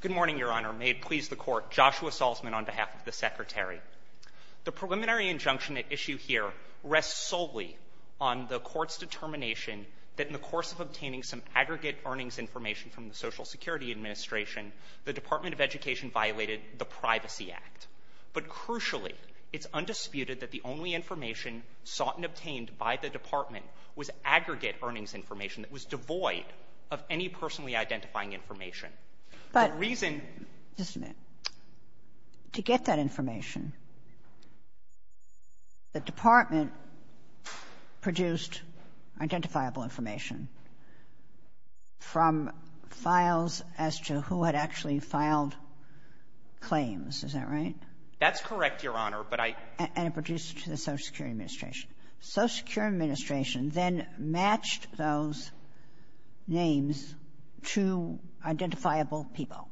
Good morning, Your Honor. May it please the Court, Joshua Salzman on behalf of the Secretary. The preliminary injunction at issue here rests solely on the Court's determination that in the course of obtaining some aggregate earnings information from the Social Security Administration, the Department of Education violated the Privacy Act. But crucially, it's undisputed that the only information sought and obtained by the Department was aggregate earnings information that was devoid of any personally identifying information. The reason But, just a minute. To get that information, the Department produced identifiable information from files as to who had actually filed claims. Is that right? That's correct, Your Honor, but I And it produced it to the Social Security Administration. Social Security Administration then matched those names to identifiable people.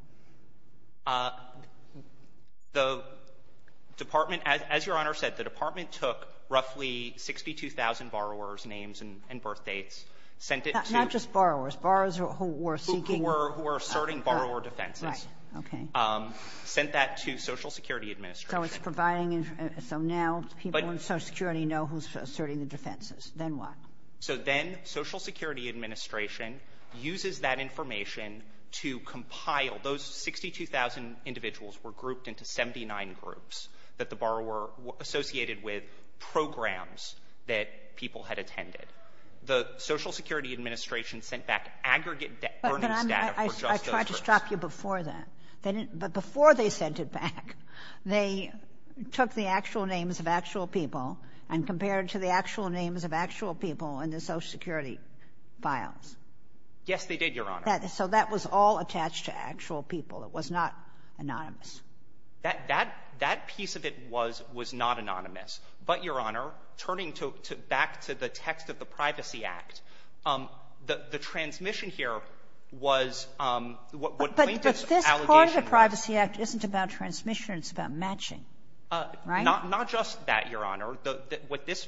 The Department, as Your Honor said, the Department took roughly 62,000 borrowers' names and birthdates, sent it to Not just borrowers. Borrowers who were seeking Who were asserting borrower defenses. Right. Okay. Sent that to Social Security Administration. So it's providing, so now people in Social Security know who's asserting the defenses. Then what? So then Social Security Administration uses that information to compile. Those 62,000 individuals were grouped into 79 groups that the borrower associated with programs that people had attended. The Social Security Administration sent back aggregate earnings data for just those They took the actual names of actual people and compared to the actual names of actual people in the Social Security files. Yes, they did, Your Honor. So that was all attached to actual people. It was not anonymous. That piece of it was not anonymous. But, Your Honor, turning back to the text of the Privacy Act, the transmission here was what plaintiffs' allegations What if the Privacy Act isn't about transmission, it's about matching, right? Not just that, Your Honor. With this,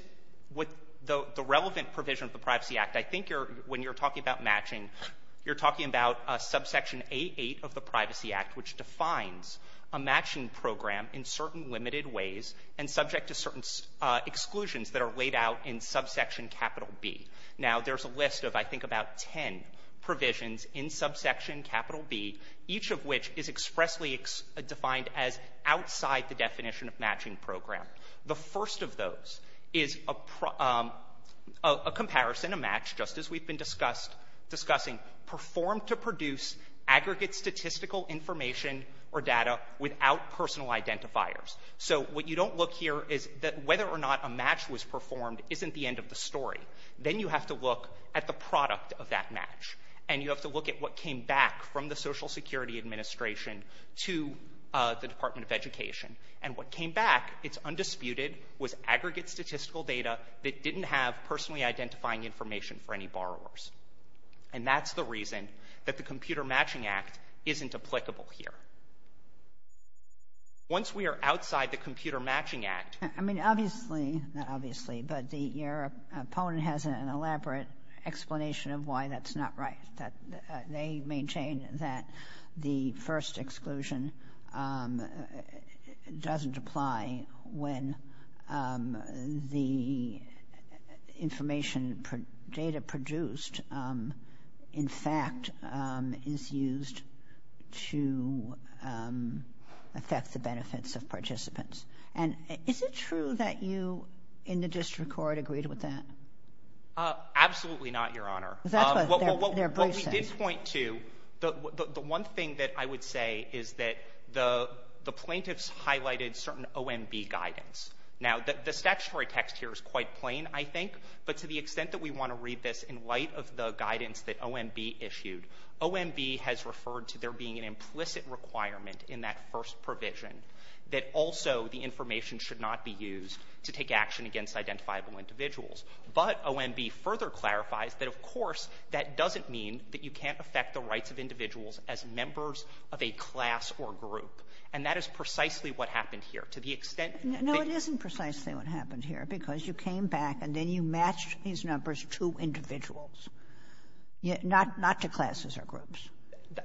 with the relevant provision of the Privacy Act, I think you're, when you're talking about matching, you're talking about subsection A8 of the Privacy Act, which defines a matching program in certain limited ways and subject to certain exclusions that are laid out in subsection capital B. Now, there's a list of, I think, about ten provisions in subsection capital B, each of which is expressly defined as outside the definition of matching program. The first of those is a comparison, a match, just as we've been discussing, performed to produce aggregate statistical information or data without personal identifiers. So what you don't look here is that whether or not a match was performed isn't the end of the story. Then you have to look at the product of that match. And you have to look at what came back from the Social Security Administration to the Department of Education. And what came back, it's undisputed, was aggregate statistical data that didn't have personally identifying information for any borrowers. And that's the reason that the Computer Matching Act isn't applicable here. Once we are outside the Computer Matching Act. I mean, obviously, not obviously, but your opponent has an elaborate explanation of why that's not right. That they maintain that the first exclusion doesn't apply when the information data produced, in fact, is used to affect the benefits of participants. And is it true that you in the district court agreed with that? Absolutely not, Your Honor. That's what they're bracing. What we did point to, the one thing that I would say is that the plaintiffs highlighted certain OMB guidance. Now, the statutory text here is quite plain, I think, but to the extent that we want to read this in light of the guidance that OMB issued, OMB has referred to there being an implicit requirement in that first provision that also the information should not be used to take action against identifiable individuals. But OMB further clarifies that, of course, that doesn't mean that you can't affect the rights of individuals as members of a class or group. And that is precisely what happened here. To the extent that you can't do that, you can't do that. No, it isn't precisely what happened here, because you came back and then you matched these numbers to individuals, not to classes or groups.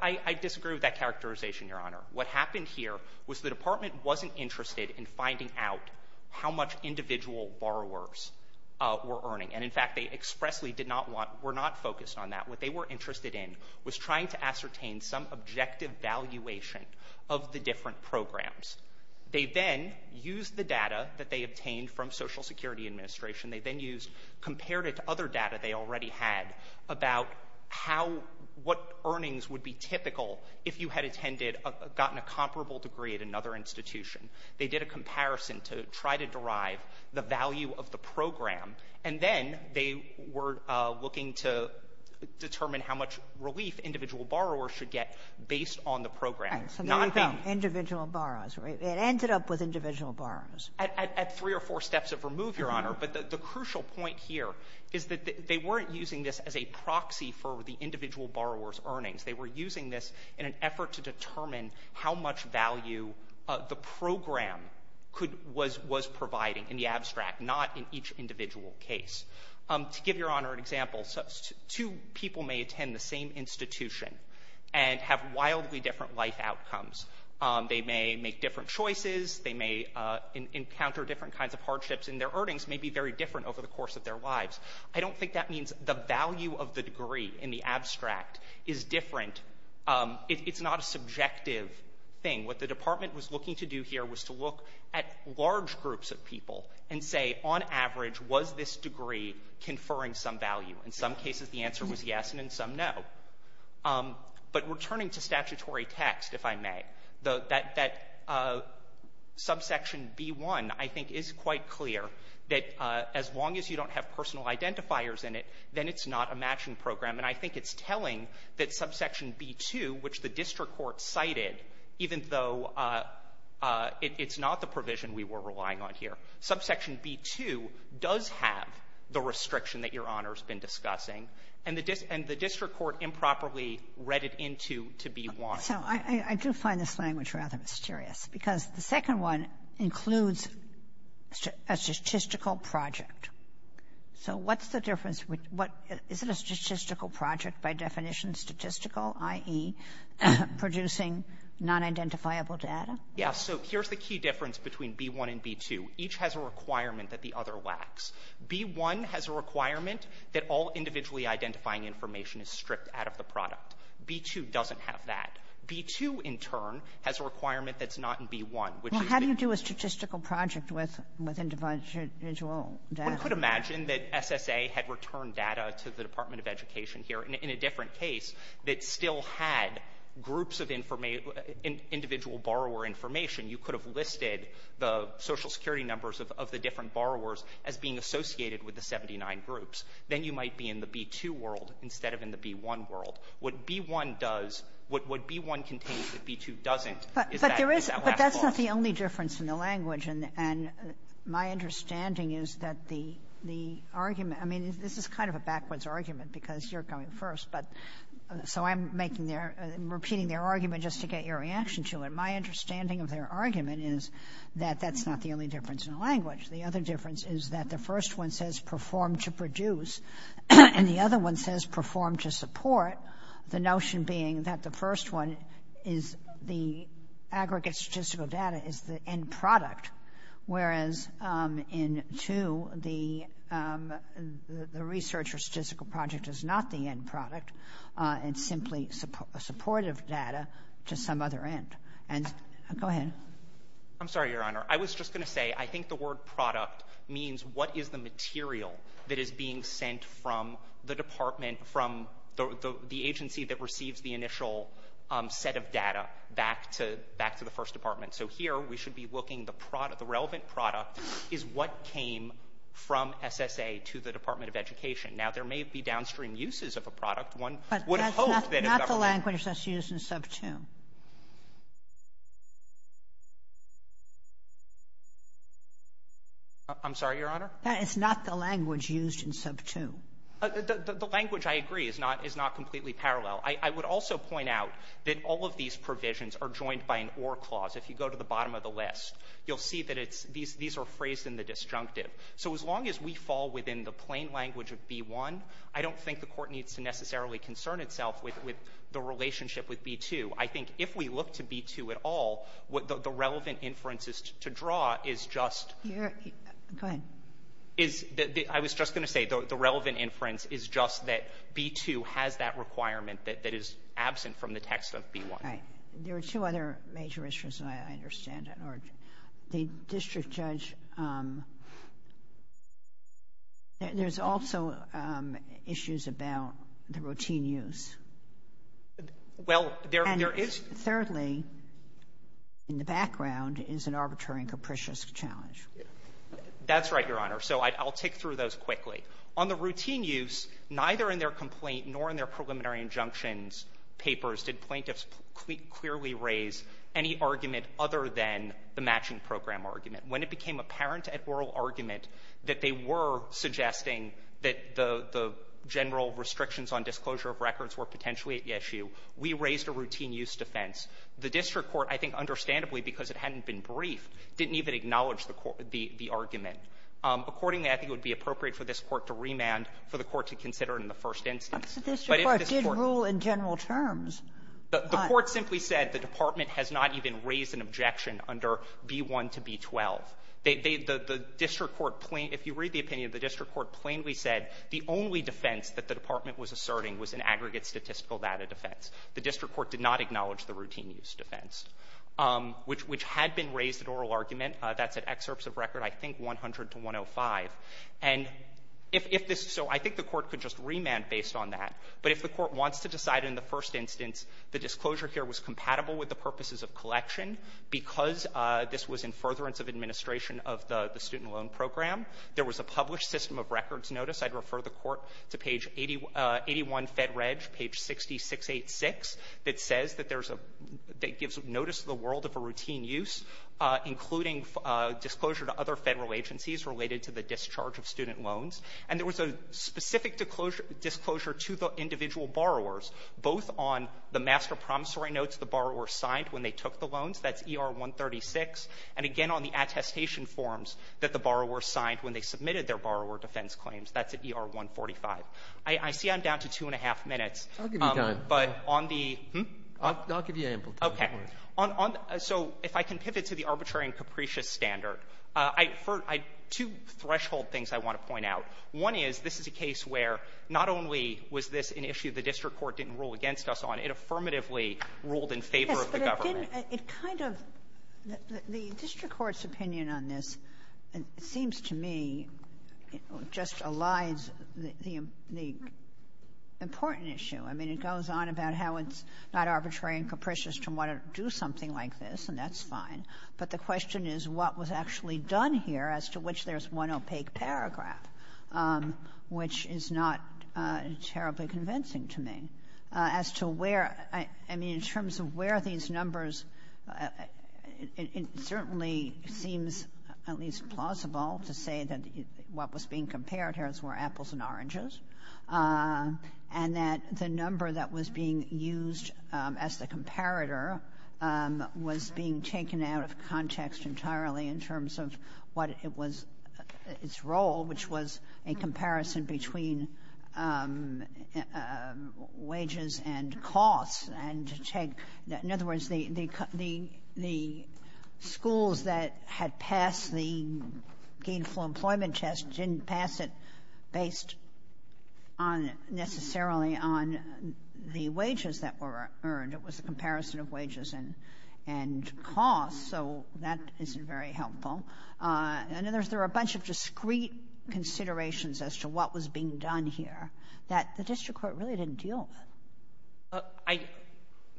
I disagree with that characterization, Your Honor. What happened here was the department wasn't interested in finding out how much individual borrowers were earning. And in fact, they expressly did not want, were not focused on that. What they were interested in was trying to ascertain some objective valuation of the different programs. They then used the data that they obtained from Social Security Administration. They then used, compared it to other data they already had about how, what earnings would be typical if you had attended, gotten a comparable degree at another institution. They did a comparison to try to derive the value of the program. And then they were looking to determine how much relief individual borrowers should get based on the program, not being — And so then you found individual borrowers, right? It ended up with individual borrowers. At three or four steps of remove, Your Honor. But the crucial point here is that they weren't using this as a proxy for the individual borrowers' earnings. They were using this in an effort to determine how much value the program could — was providing in the abstract, not in each individual case. To give Your Honor an example, two people may attend the same institution and have wildly different life outcomes. They may make different choices. They may encounter different kinds of hardships, and their earnings may be very different over the course of their lives. I don't think that means the value of the degree in the abstract is different. It's not a subjective thing. What the Department was looking to do here was to look at large groups of people and say, on average, was this degree conferring some value? In some cases, the answer was yes, and in some, no. But returning to statutory text, if I may, that subsection B-1, I think, is quite clear that as long as you don't have personal identifiers in it, then it's not a matching program. And I think it's telling that subsection B-2, which the district court cited, even though it's not the provision we were relying on here. Subsection B-2 does have the restriction that Your Honor's been discussing. And the district court improperly read it into to B-1. So I do find this language rather mysterious, because the second one includes a statistical project. So what's the difference? Is it a statistical project by definition, statistical, i.e., producing non-identifiable data? Yeah. So here's the key difference between B-1 and B-2. Each has a requirement that the other lacks. B-1 has a requirement that all individually identifying information is stripped out of the product. B-2 doesn't have that. B-2, in turn, has a requirement that's not in B-1, which is the — Well, how do you do a statistical project with individual data? One could imagine that SSA had returned data to the Department of Education here in a different case that still had groups of individual borrower information. You could have listed the Social Security numbers of the different borrowers as being associated with the 79 groups. Then you might be in the B-2 world instead of in the B-1 world. What B-1 does — what B-1 contains that B-2 doesn't is that lack of all of them. But there is — but that's not the only difference in the language. And my understanding is that the argument — I mean, this is kind of a backwards argument because you're going first, but — so I'm making their — repeating their argument just to get your reaction to it. My understanding of their argument is that that's not the only difference in the language. The other difference is that the first one says perform to produce, and the other one says perform to support, the notion being that the first one is the aggregate statistical data is the end product, whereas in two, the research or statistical project is not the end product, it's simply supportive data to some other end. And — go ahead. I'm sorry, Your Honor. I was just going to say, I think the word product means what is the material from the agency that receives the initial set of data back to the first department. So here, we should be looking — the relevant product is what came from SSA to the Department of Education. Now, there may be downstream uses of a product. One would hope that if government — But that's not the language that's used in sub 2. I'm sorry, Your Honor? That is not the language used in sub 2. The language, I agree, is not — is not completely parallel. I would also point out that all of these provisions are joined by an or clause. If you go to the bottom of the list, you'll see that it's — these are phrased in the disjunctive. So as long as we fall within the plain language of B-1, I don't think the Court needs to necessarily concern itself with the relationship with B-2. I think if we look to B-2 at all, the relevant inferences to draw is just — Your — go ahead. Is — I was just going to say, the relevant inference is just that B-2 has that requirement that is absent from the text of B-1. Right. There are two other major issues that I understand at large. The district judge — there's also issues about the routine use. Well, there is — And thirdly, in the background, is an arbitrary and capricious challenge. That's right, Your Honor. So I'll tick through those quickly. On the routine use, neither in their complaint nor in their preliminary injunctions papers did plaintiffs clearly raise any argument other than the matching program argument. When it became apparent at oral argument that they were suggesting that the general restrictions on disclosure of records were potentially at issue, we raised a routine use defense. The district court, I think understandably because it hadn't been briefed, didn't even acknowledge the argument. Accordingly, I think it would be appropriate for this Court to remand, for the Court to consider in the first instance. But if this Court — But the district court did rule in general terms. The court simply said the department has not even raised an objection under B-1 to B-12. They — the district court — if you read the opinion, the district court plainly said the only defense that the department was asserting was an aggregate statistical data defense. The district court did not acknowledge the routine use defense, which had been raised at oral argument. That's at excerpts of record, I think, 100 to 105. And if this — so I think the Court could just remand based on that. But if the Court wants to decide in the first instance the disclosure here was compatible with the purposes of collection because this was in furtherance of administration of the student loan program, there was a published system of records notice. I'd refer the Court to page 81, Fed Reg, page 60, 686, that says that there's a — that disclosure to other Federal agencies related to the discharge of student loans. And there was a specific disclosure to the individual borrowers, both on the master promissory notes the borrower signed when they took the loans, that's ER-136, and again on the attestation forms that the borrower signed when they submitted their borrower defense claims, that's at ER-145. I see I'm down to two-and-a-half minutes. Breyer, I'll give you time. But on the — I'll give you ample time. Okay. On — so if I can pivot to the arbitrary and capricious standard, I — two threshold things I want to point out. One is, this is a case where not only was this an issue the district court didn't rule against us on, it affirmatively ruled in favor of the government. It kind of — the district court's opinion on this seems to me just elides the — the important issue. I mean, it goes on about how it's not arbitrary and capricious to want to do something like this, and that's fine. But the question is what was actually done here, as to which there's one opaque paragraph, which is not terribly convincing to me. As to where — I mean, in terms of where these numbers — it certainly seems at least plausible to say that what was being compared here is where apples and oranges, and that the number that was being used as the comparator was being taken out of context entirely in terms of what it was — its role, which was a comparison between wages and costs, and to take — in other words, the — the schools that had passed the gainful employment test didn't pass it based on — necessarily on the wages that were earned. It was a comparison of wages and — and costs, so that isn't very helpful. And then there's — there are a bunch of discrete considerations as to what was being done here that the district court really didn't deal with. I —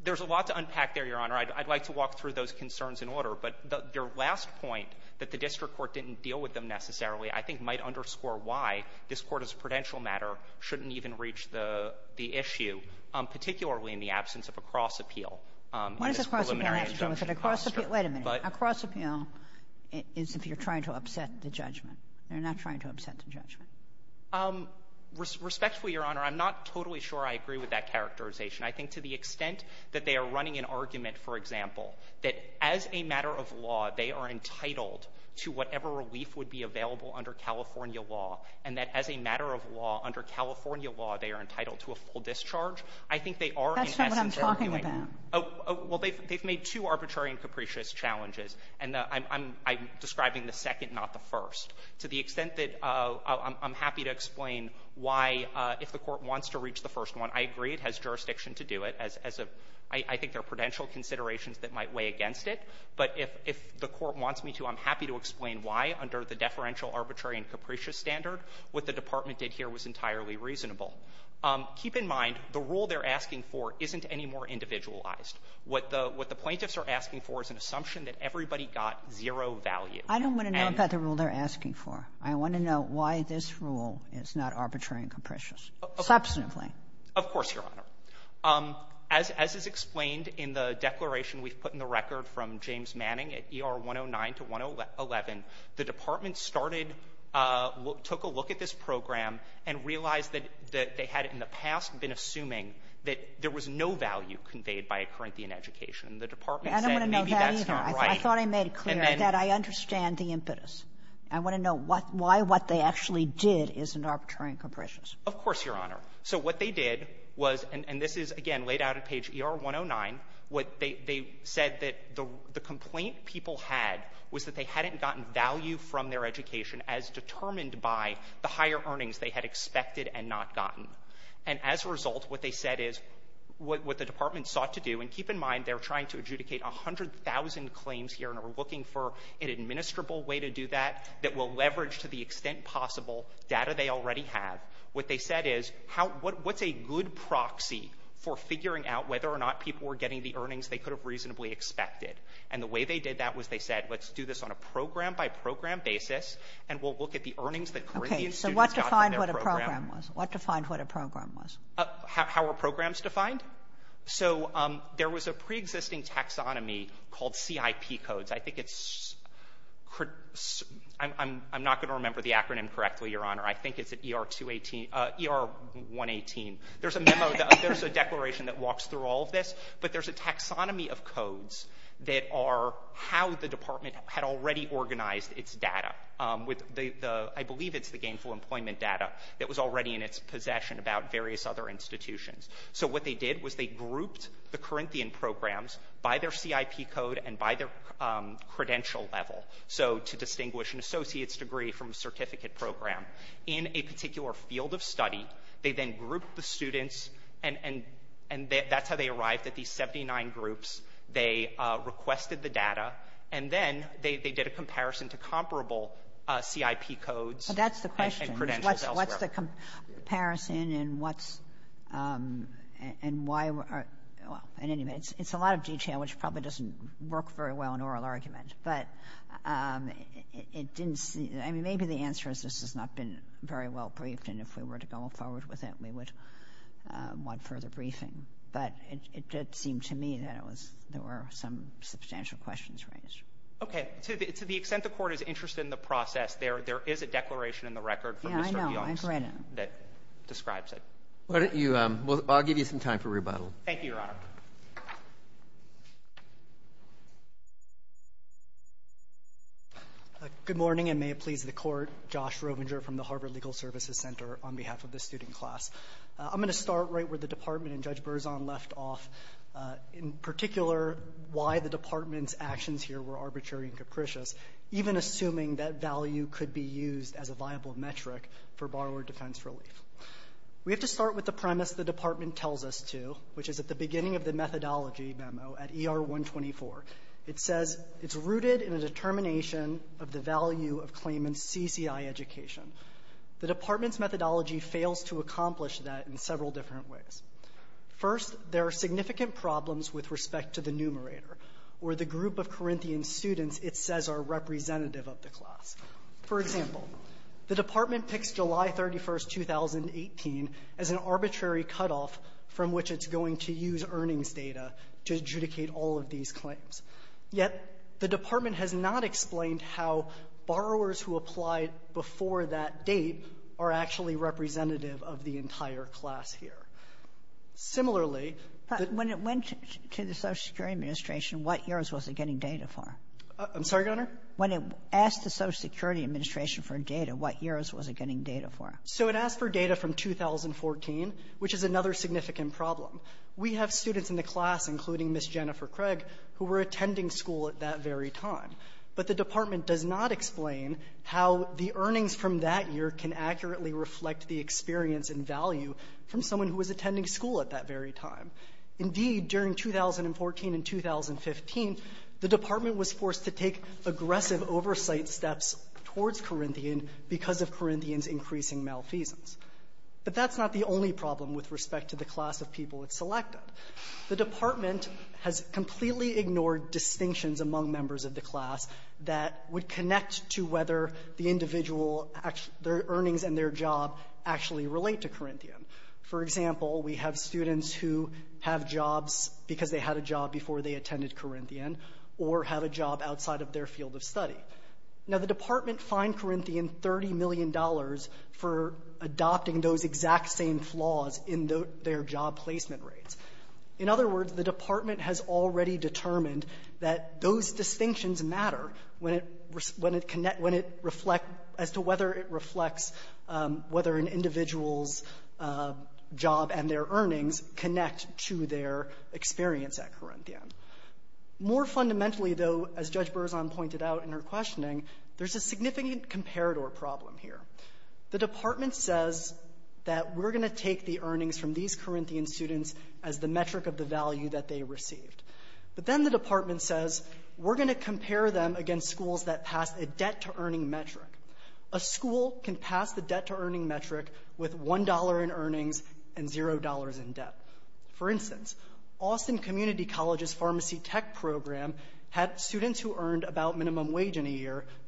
there's a lot to unpack there, Your Honor. I'd — I'd like to walk through those concerns in order. But the — your last point, that the district court didn't deal with them necessarily, I think might underscore why this Court as a prudential matter shouldn't even reach the — the issue, particularly in the absence of a cross-appeal in this preliminary injunction posture. Kagan. What does a cross-appeal have to do with it? A cross-appeal — wait a minute. A cross-appeal is if you're trying to upset the judgment. You're not trying to upset the judgment. Respectfully, Your Honor, I'm not totally sure I agree with that characterization. I think to the extent that they are running an argument, for example, that as a matter of law, they are entitled to whatever relief would be available under California law, and that as a matter of law, under California law, they are entitled to a full discharge, I think they are in essence — That's not what I'm talking about. Well, they've — they've made two arbitrary and capricious challenges. And I'm — I'm describing the second, not the first. To the extent that I'm happy to explain why, if the Court wants to reach the first one, I agree it has jurisdiction to do it as a — I think there are prudential considerations that might weigh against it. But if — if the Court wants me to, I'm happy to explain why, under the deferential arbitrary and capricious standard. What the Department did here was entirely reasonable. Keep in mind, the rule they're asking for isn't any more individualized. What the — what the plaintiffs are asking for is an assumption that everybody got zero value. I don't want to know about the rule they're asking for. I want to know why this rule is not arbitrary and capricious. Okay. Substantively. Of course, Your Honor. As — as is explained in the declaration we've put in the record from James Manning at ER 109 to 111, the Department started — took a look at this program and realized that — that they had in the past been assuming that there was no value conveyed by a Corinthian education. The Department said maybe that's not right. I don't want to know that either. I thought I made it clear that I understand the impetus. I want to know what — why what they actually did isn't arbitrary and capricious. Of course, Your Honor. So what they did was — and this is, again, laid out at page ER 109. What they — they said that the complaint people had was that they hadn't gotten value from their education as determined by the higher earnings they had expected and not gotten. And as a result, what they said is what the Department sought to do — and keep in mind, they're trying to adjudicate 100,000 claims here and are looking for an administrable way to do that that will leverage to the extent possible data they already have. What they said is how — what's a good proxy for figuring out whether or not people were getting the earnings they could have reasonably expected. And the way they did that was they said, let's do this on a program-by-program basis, and we'll look at the earnings that Corinthian students got from their program. Okay. So what defined what a program was? What defined what a program was? How are programs defined? So there was a preexisting taxonomy called CIP codes. I think it's — I'm not going to remember the acronym correctly, Your Honor. I think it's ER-218 — ER-118. There's a memo — there's a declaration that walks through all of this, but there's a taxonomy of codes that are how the Department had already organized its data with the — I believe it's the gainful employment data that was already in its possession about various other institutions. So what they did was they grouped the Corinthian programs by their CIP code and by their credential level. So to distinguish an associate's degree from a certificate program. In a particular field of study, they then grouped the students, and that's how they arrived at these 79 groups. They requested the data, and then they did a comparison to comparable CIP codes and credentials elsewhere. But that's the question. What's the comparison and what's — and why are — well, in any event, it's a lot of detail which probably doesn't work very well in oral argument. But it didn't see — I mean, maybe the answer is this has not been very well briefed, and if we were to go forward with it, we would want further briefing. But it did seem to me that it was — there were some substantial questions raised. Okay. To the extent the Court is interested in the process, there is a declaration in the record from Mr. Pionis — Yeah, I know. I've read it. — that describes it. Why don't you — I'll give you some time for rebuttal. Thank you, Your Honor. Good morning, and may it please the Court. Josh Rovinger from the Harvard Legal Services Center on behalf of the student class. I'm going to start right where the Department and Judge Berzon left off, in particular why the Department's actions here were arbitrary and capricious, even assuming that value could be used as a viable metric for borrower defense relief. We have to start with the premise the Department tells us to, which is at the beginning of the methodology memo at ER-124. It says it's rooted in a determination of the value of claimants' CCI education. The Department's methodology fails to accomplish that in several different ways. First, there are significant problems with respect to the numerator, or the group of Corinthian students it says are representative of the class. For example, the Department picks July 31, 2018, as an arbitrary cutoff from which it's going to use earnings data to adjudicate all of these claims. Yet the Department has not explained how borrowers who applied before that date are actually representative of the entire class here. Similarly, the — But when it went to the Social Security Administration, what years was it getting data for? I'm sorry, Your Honor? When it asked the Social Security Administration for data, what years was it getting data for? So it asked for data from 2014, which is another significant problem. We have students in the class, including Ms. Jennifer Craig, who were attending school at that very time. But the Department does not explain how the earnings from that year can accurately reflect the experience and value from someone who was attending school at that very time. Indeed, during 2014 and 2015, the Department was forced to take aggressive oversight steps towards Corinthian because of Corinthian's increasing malfeasance. But that's not the only problem with respect to the class of people it selected. The Department has completely ignored distinctions among members of the class that would connect to whether the individual — their earnings and their job actually relate to Corinthian. For example, we have students who have jobs because they had a job before they attended Corinthian or have a job outside of their field of study. Now, the Department fined Corinthian $30 million for adopting those exact same flaws in their job placement rates. In other words, the Department has already determined that those distinctions matter when it — when it — when it reflect — as to whether it reflects whether an individual's job and their earnings connect to their experience at Corinthian. More fundamentally, though, as Judge Berzon pointed out in her questioning, there's a significant comparator problem here. The Department says that we're going to take the earnings from these Corinthian students as the metric of the value that they received. But then the Department says, we're going to compare them against schools that pass a debt-to-earning metric. A school can pass the debt-to-earning metric with $1 in earnings and $0 in debt. For instance, Austin Community College's $1,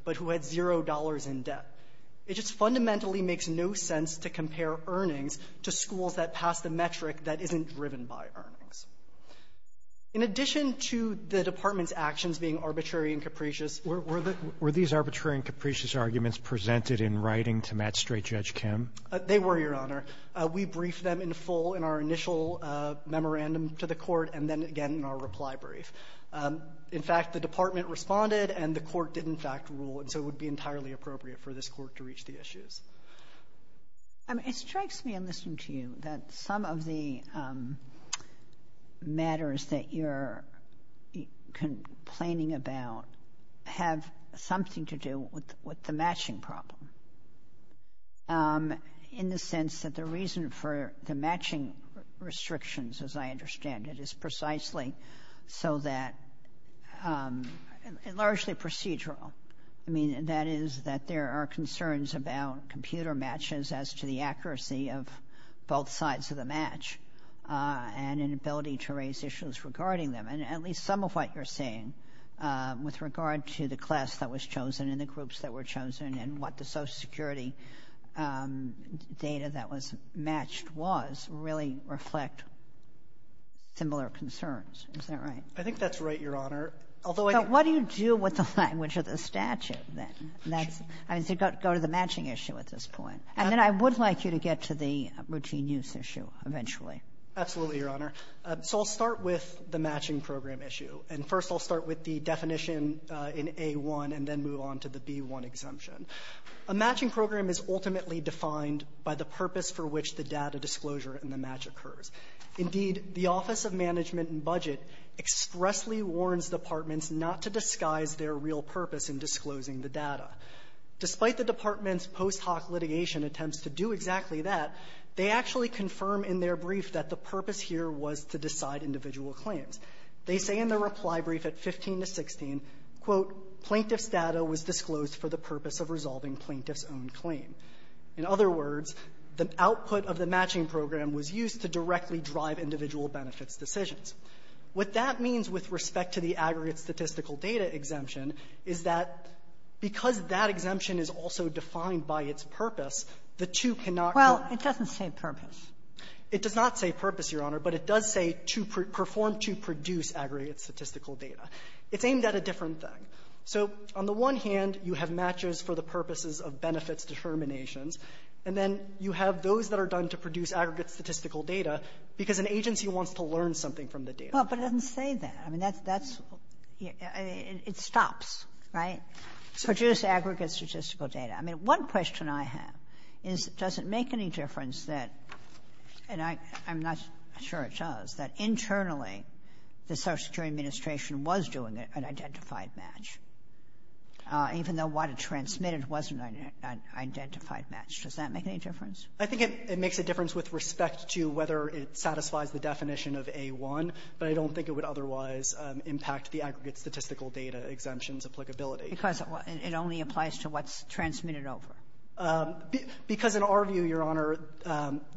but who had $0 in debt. It just fundamentally makes no sense to compare earnings to schools that pass the metric that isn't driven by earnings. In addition to the Department's actions being arbitrary and capricious — Roberts. Were these arbitrary and capricious arguments presented in writing to Matt Strait, Judge Kim? They were, Your Honor. We briefed them in full in our initial memorandum to the Court and then again in our reply brief. In fact, the Department responded, and the Court did in fact rule, and so it would be entirely appropriate for this Court to reach the issues. It strikes me in listening to you that some of the matters that you're complaining about have something to do with the matching problem. In the sense that the reason for the matching restrictions, as I understand it, is precisely so that — largely procedural. I mean, that is, that there are concerns about computer matches as to the accuracy of both sides of the match and inability to raise issues regarding them. And at least some of what you're saying with regard to the class that was chosen and the groups that were chosen and what the Social Security data that was matched was really reflect similar concerns. Is that right? I think that's right, Your Honor. Although I — But what do you do with the language of the statute then? I mean, so go to the matching issue at this point. And then I would like you to get to the routine use issue eventually. Absolutely, Your Honor. So I'll start with the matching program issue. And first I'll start with the definition in A-1 and then move on to the B-1 exemption. A matching program is ultimately defined by the purpose for which the data disclosure in the match occurs. Indeed, the Office of Management and Budget expressly warns departments not to disguise their real purpose in disclosing the data. Despite the department's post hoc litigation attempts to do exactly that, they actually confirm in their brief that the purpose here was to decide on individual claims. They say in their reply brief at 15 to 16, quote, plaintiff's data was disclosed for the purpose of resolving plaintiff's own claim. In other words, the output of the matching program was used to directly drive individual benefits decisions. What that means with respect to the aggregate statistical data exemption is that because that exemption is also defined by its purpose, the two cannot be — Well, it doesn't say purpose. It does not say purpose, Your Honor, but it does say to — perform to produce aggregate statistical data. It's aimed at a different thing. So on the one hand, you have matches for the purposes of benefits determinations, and then you have those that are done to produce aggregate statistical data because an agency wants to learn something from the data. Well, but it doesn't say that. I mean, that's — it stops, right? Produce aggregate statistical data. I mean, one question I have is, does it make any difference that — and I'm not sure it does — that internally the Social Security Administration was doing an identified match, even though what it transmitted wasn't an identified match? Does that make any difference? I think it makes a difference with respect to whether it satisfies the definition of A-1, but I don't think it would otherwise impact the aggregate statistical data exemption's applicability. Because it only applies to what's transmitted over. Because in our view, Your Honor,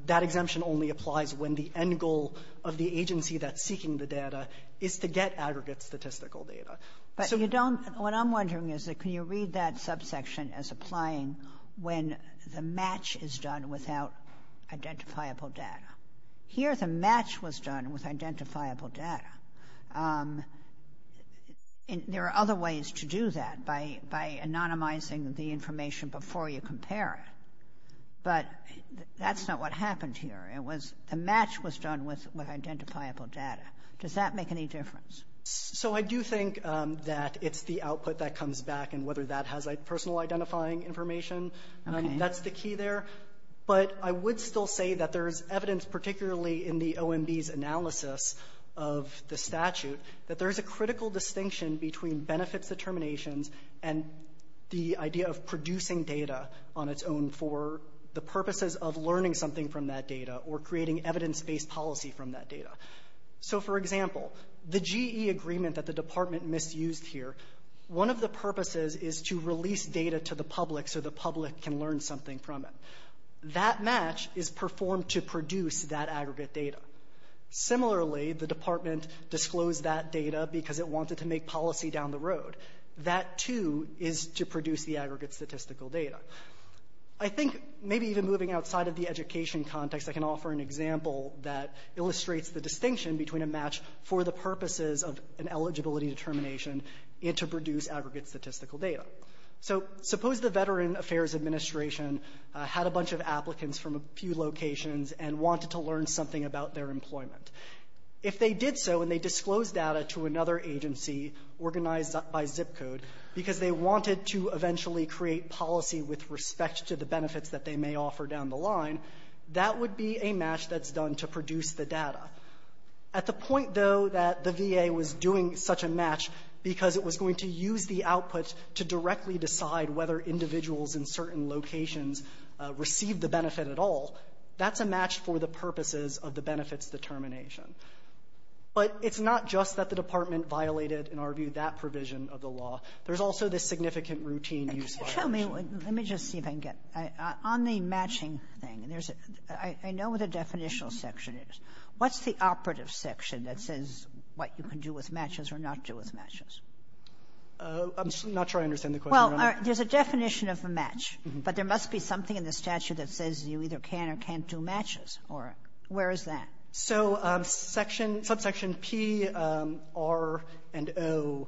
that exemption only applies when the end goal of the agency that's seeking the data is to get aggregate statistical data. But you don't — what I'm wondering is, can you read that subsection as applying when the match is done without identifiable data? Here the match was done with identifiable data. There are other ways to do that by anonymizing the information before you compare it. But that's not what happened here. It was — the match was done with identifiable data. Does that make any difference? So I do think that it's the output that comes back and whether that has personal identifying information. Okay. That's the key there. But I would still say that there's evidence, particularly in the OMB's analysis of the statute, that there's a critical distinction between benefits determinations and the idea of producing data on its own for the purposes of learning something from that data or creating evidence-based policy from that data. So for example, the GE agreement that the department misused here, one of the purposes is to release data to the public so the public can learn something from it. That match is performed to produce that aggregate data. Similarly, the department disclosed that data because it wanted to make policy down the road. That too is to produce the aggregate statistical data. I think maybe even moving outside of the education context, I can offer an example that illustrates the distinction between a match for the purposes of an eligibility determination and to produce aggregate statistical data. So suppose the Veteran Affairs Administration had a bunch of applicants from a few locations and wanted to learn something about their employment. If they did so and they disclosed data to another agency organized by zip code because they wanted to eventually create policy with respect to the benefits that they may offer down the line, that would be a match that's done to produce the data. At the point, though, that the VA was doing such a match because it was going to use the output to directly decide whether individuals in certain locations received the benefit at all, that's a match for the purposes of the benefits determination. But it's not just that the department violated, in our view, that provision of the law. There's also this significant routine use violation. Kagan. Can you tell me, let me just see if I can get, on the matching thing, and there's a, I know what the definitional section is. What's the operative section that says what you can do with matches or not do with matches? I'm not sure I understand the question. Well, there's a definition of a match, but there must be something in the statute that says you either can or can't do matches, or where is that? So, subsection P, R, and O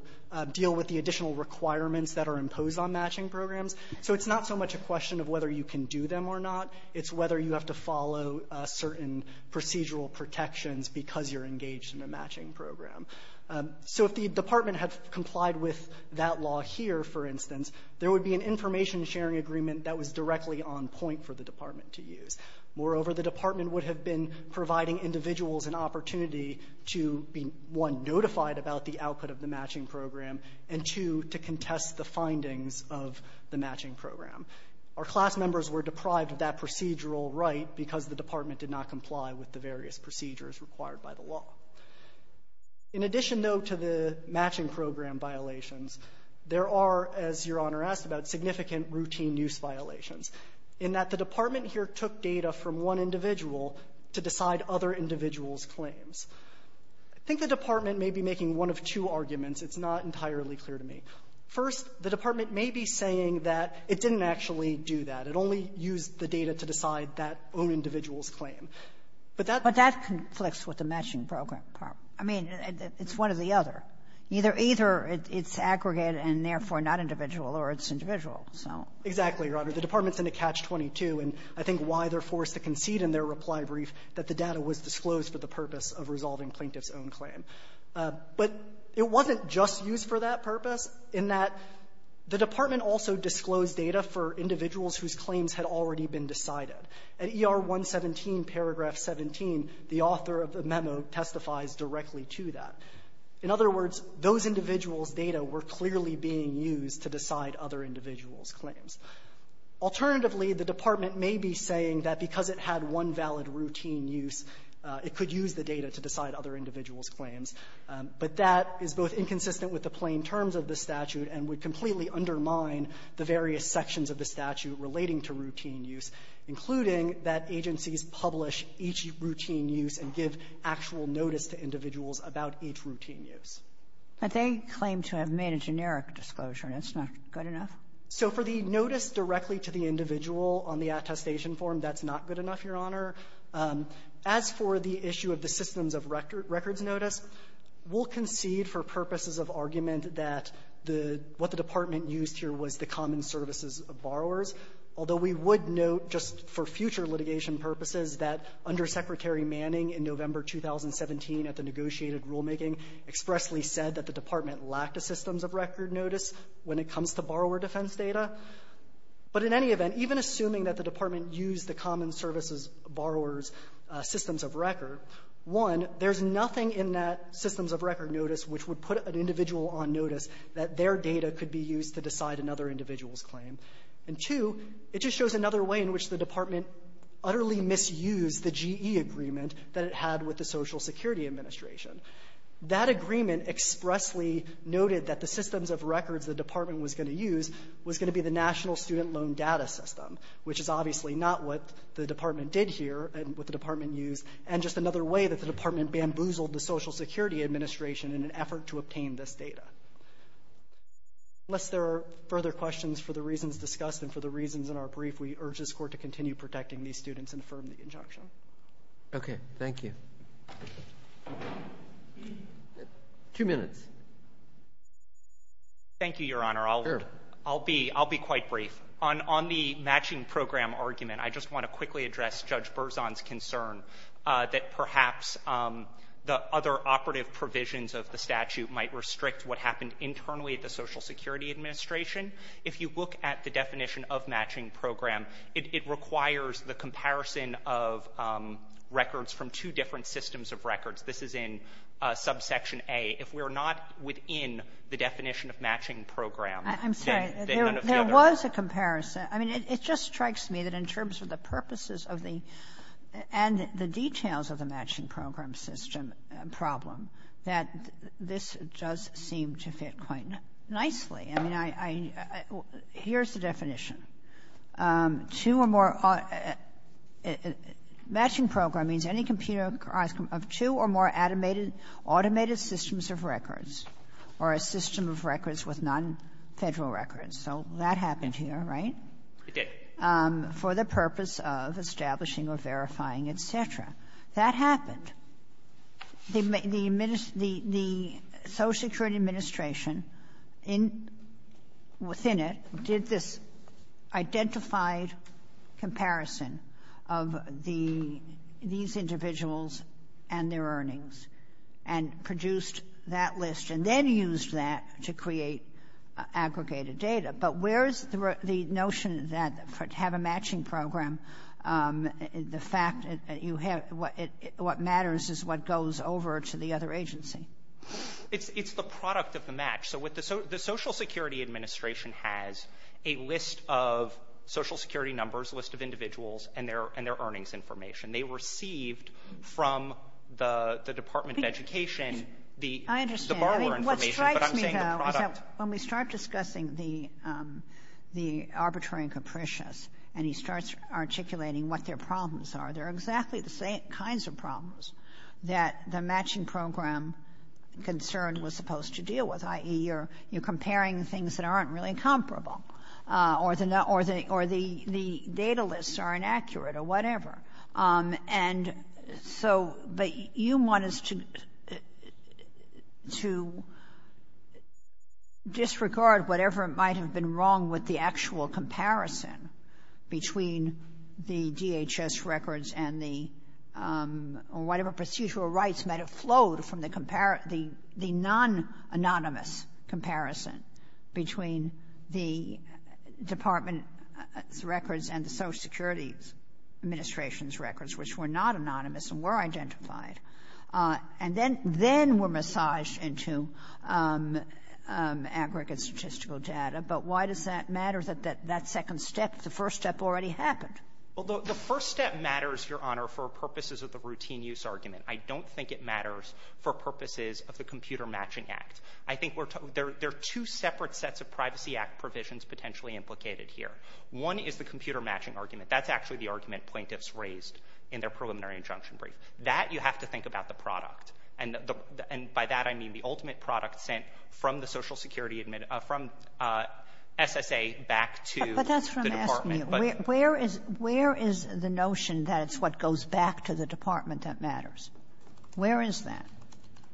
deal with the additional requirements that are imposed on matching programs. So it's not so much a question of whether you can do them or not. It's whether you have to follow certain procedural protections because you're engaged in a matching program. So if the department had complied with that law here, for instance, there would be an information sharing agreement that was directly on point for the department to use. Moreover, the department would have been providing individuals an opportunity to be, one, notified about the output of the matching program, and two, to contest the findings of the matching program. Our class members were deprived of that procedural right because the department did not comply with the various procedures required by the law. In addition, though, to the matching program violations, there are, as Your Honor asked about, significant routine use violations in that the department here took data from one individual to decide other individuals' claims. I think the department may be making one of two arguments. It's not entirely clear to me. First, the department may be saying that it didn't actually do that. It only used the data to decide that own individual's claim. But that's the problem. I mean, it's one or the other. Either it's aggregate and, therefore, not individual or it's individual. So — Exactly, Your Honor. The department's in a catch-22. And I think why they're forced to concede in their reply brief that the data was disclosed for the purpose of resolving plaintiff's own claim. But it wasn't just used for that purpose in that the department also disclosed data for individuals whose claims had already been decided. At ER 117, paragraph 17, the author of the memo testifies directly to that. In other words, those individuals' data were clearly being used to decide other individuals' claims. Alternatively, the department may be saying that because it had one valid routine use, it could use the data to decide other individuals' claims. But that is both inconsistent with the plain terms of the statute and would completely undermine the various sections of the statute relating to routine use, including that agencies publish each routine use and give actual notice to individuals about each routine use. But they claim to have made a generic disclosure, and that's not good enough? So for the notice directly to the individual on the attestation form, that's not good enough, Your Honor. As for the issue of the systems of records notice, we'll concede for purposes of argument that the — what the department used here was the common services of borrowers, although we would note just for future litigation purposes that Undersecretary Manning in November 2017 at the negotiated rulemaking expressly said that the department lacked a systems of record notice when it comes to borrower defense data. But in any event, even assuming that the department used the common services borrowers' systems of record, one, there's nothing in that systems of record notice which would put an individual on notice that their data could be used to decide another individual's claim. And two, it just shows another way in which the department utterly misused the GE agreement that it had with the Social Security Administration. That agreement expressly noted that the systems of records the department was going to use was going to be the National Student Loan Data System, which is obviously not what the department did here and what the department used, and just another way that the department bamboozled the Social Security Administration in an effort to obtain this data. Unless there are further questions for the reasons discussed and for the reasons in our brief, we urge this Court to continue protecting these students and affirm the injunction. Okay. Thank you. Two minutes. Thank you, Your Honor. Sure. I'll be quite brief. On the matching program argument, I just want to quickly address Judge Berzon's concern that perhaps the other operative provisions of the statute might restrict what happened internally at the Social Security Administration. If you look at the definition of matching program, it requires the comparison of records from two different systems of records. This is in subsection A. If we're not within the definition of matching program, then none of the other I'm sorry. There was a comparison. I mean, it just strikes me that in terms of the purposes of the and the details of the matching program system problem, that this does seem to fit quite nicely. I mean, I here's the definition. Two or more matching program means any computer of two or more automated systems of records or a system of records with non-Federal records. So that happened here, right? It did. For the purpose of establishing or verifying, et cetera. That happened. The Social Security Administration within it did this identified comparison of these individuals and their earnings and produced that list and then used that to create aggregated data. But where is the notion that to have a matching program, the fact that you have what matters is what goes over to the other agency. It's the product of the match. So the Social Security Administration has a list of Social Security numbers, a list of individuals, and their earnings information. They received from the Department of Education the borrower information. I understand. But when we start discussing the arbitrary and capricious and he starts articulating what their problems are, they're exactly the same kinds of problems that the matching program concern was supposed to deal with, i.e., you're comparing things that aren't really comparable or the data lists are inaccurate or whatever. And so, but you want us to disregard whatever might have been wrong with the actual comparison between the DHS records and the whatever procedural rights might have flowed from the non-anonymous comparison between the department's records and the Social Security Administration's records, which were not anonymous and were identified, and then were massaged into aggregate statistical data. But why does that matter that that second step, the first step already happened? Well, the first step matters, Your Honor, for purposes of the routine use argument. I don't think it matters for purposes of the Computer Matching Act. I think there are two separate sets of Privacy Act provisions potentially implicated here. One is the computer matching argument. That's actually the argument plaintiffs raised in their preliminary injunction brief. That, you have to think about the product. And by that, I mean the ultimate product sent from the Social Security Administration from SSA back to the department. But that's what I'm asking you. Where is the notion that it's what goes back to the department that matters? Where is that?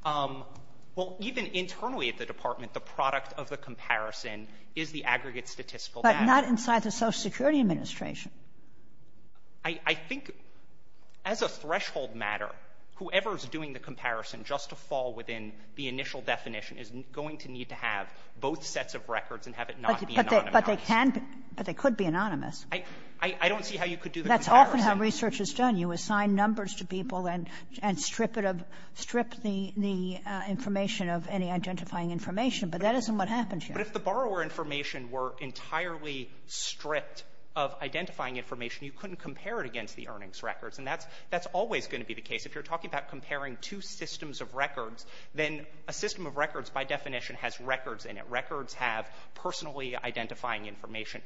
Well, even internally at the department, the product of the comparison is the aggregate statistical data. But not inside the Social Security Administration. I think, as a threshold matter, whoever is doing the comparison, just to fall within the initial definition, is going to need to have both sets of records and have it not be anonymous. But they can be. But they could be anonymous. I don't see how you could do the comparison. That's often how research is done. You assign numbers to people and strip the information of any identifying information, but that isn't what happens here. But if the borrower information were entirely stripped of identifying information, you couldn't compare it against the earnings records. And that's always going to be the case. If you're talking about comparing two systems of records, then a system of records by definition has records in it. Records have personally identifying information.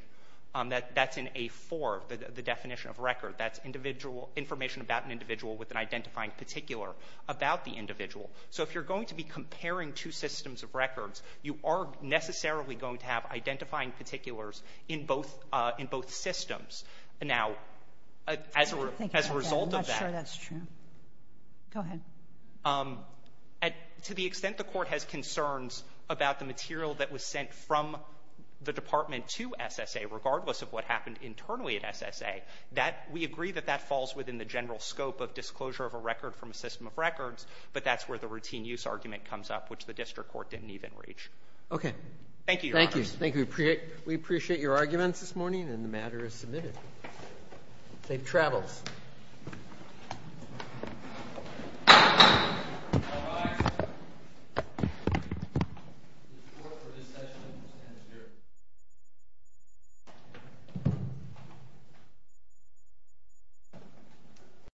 That's in A-4, the definition of record. That's individual information about an individual with an identifying particular about the individual. So if you're going to be comparing two systems of records, you are necessarily going to have identifying particulars in both systems. Now, as a result of that. I'm not sure that's true. Go ahead. To the extent the Court has concerns about the material that was sent from the We agree that that falls within the general scope of disclosure of a record from a system of records, but that's where the routine use argument comes up, which the District Court didn't even reach. Okay. Thank you, Your Honor. Thank you. We appreciate your arguments this morning, and the matter is submitted. Safe travels. Thank you.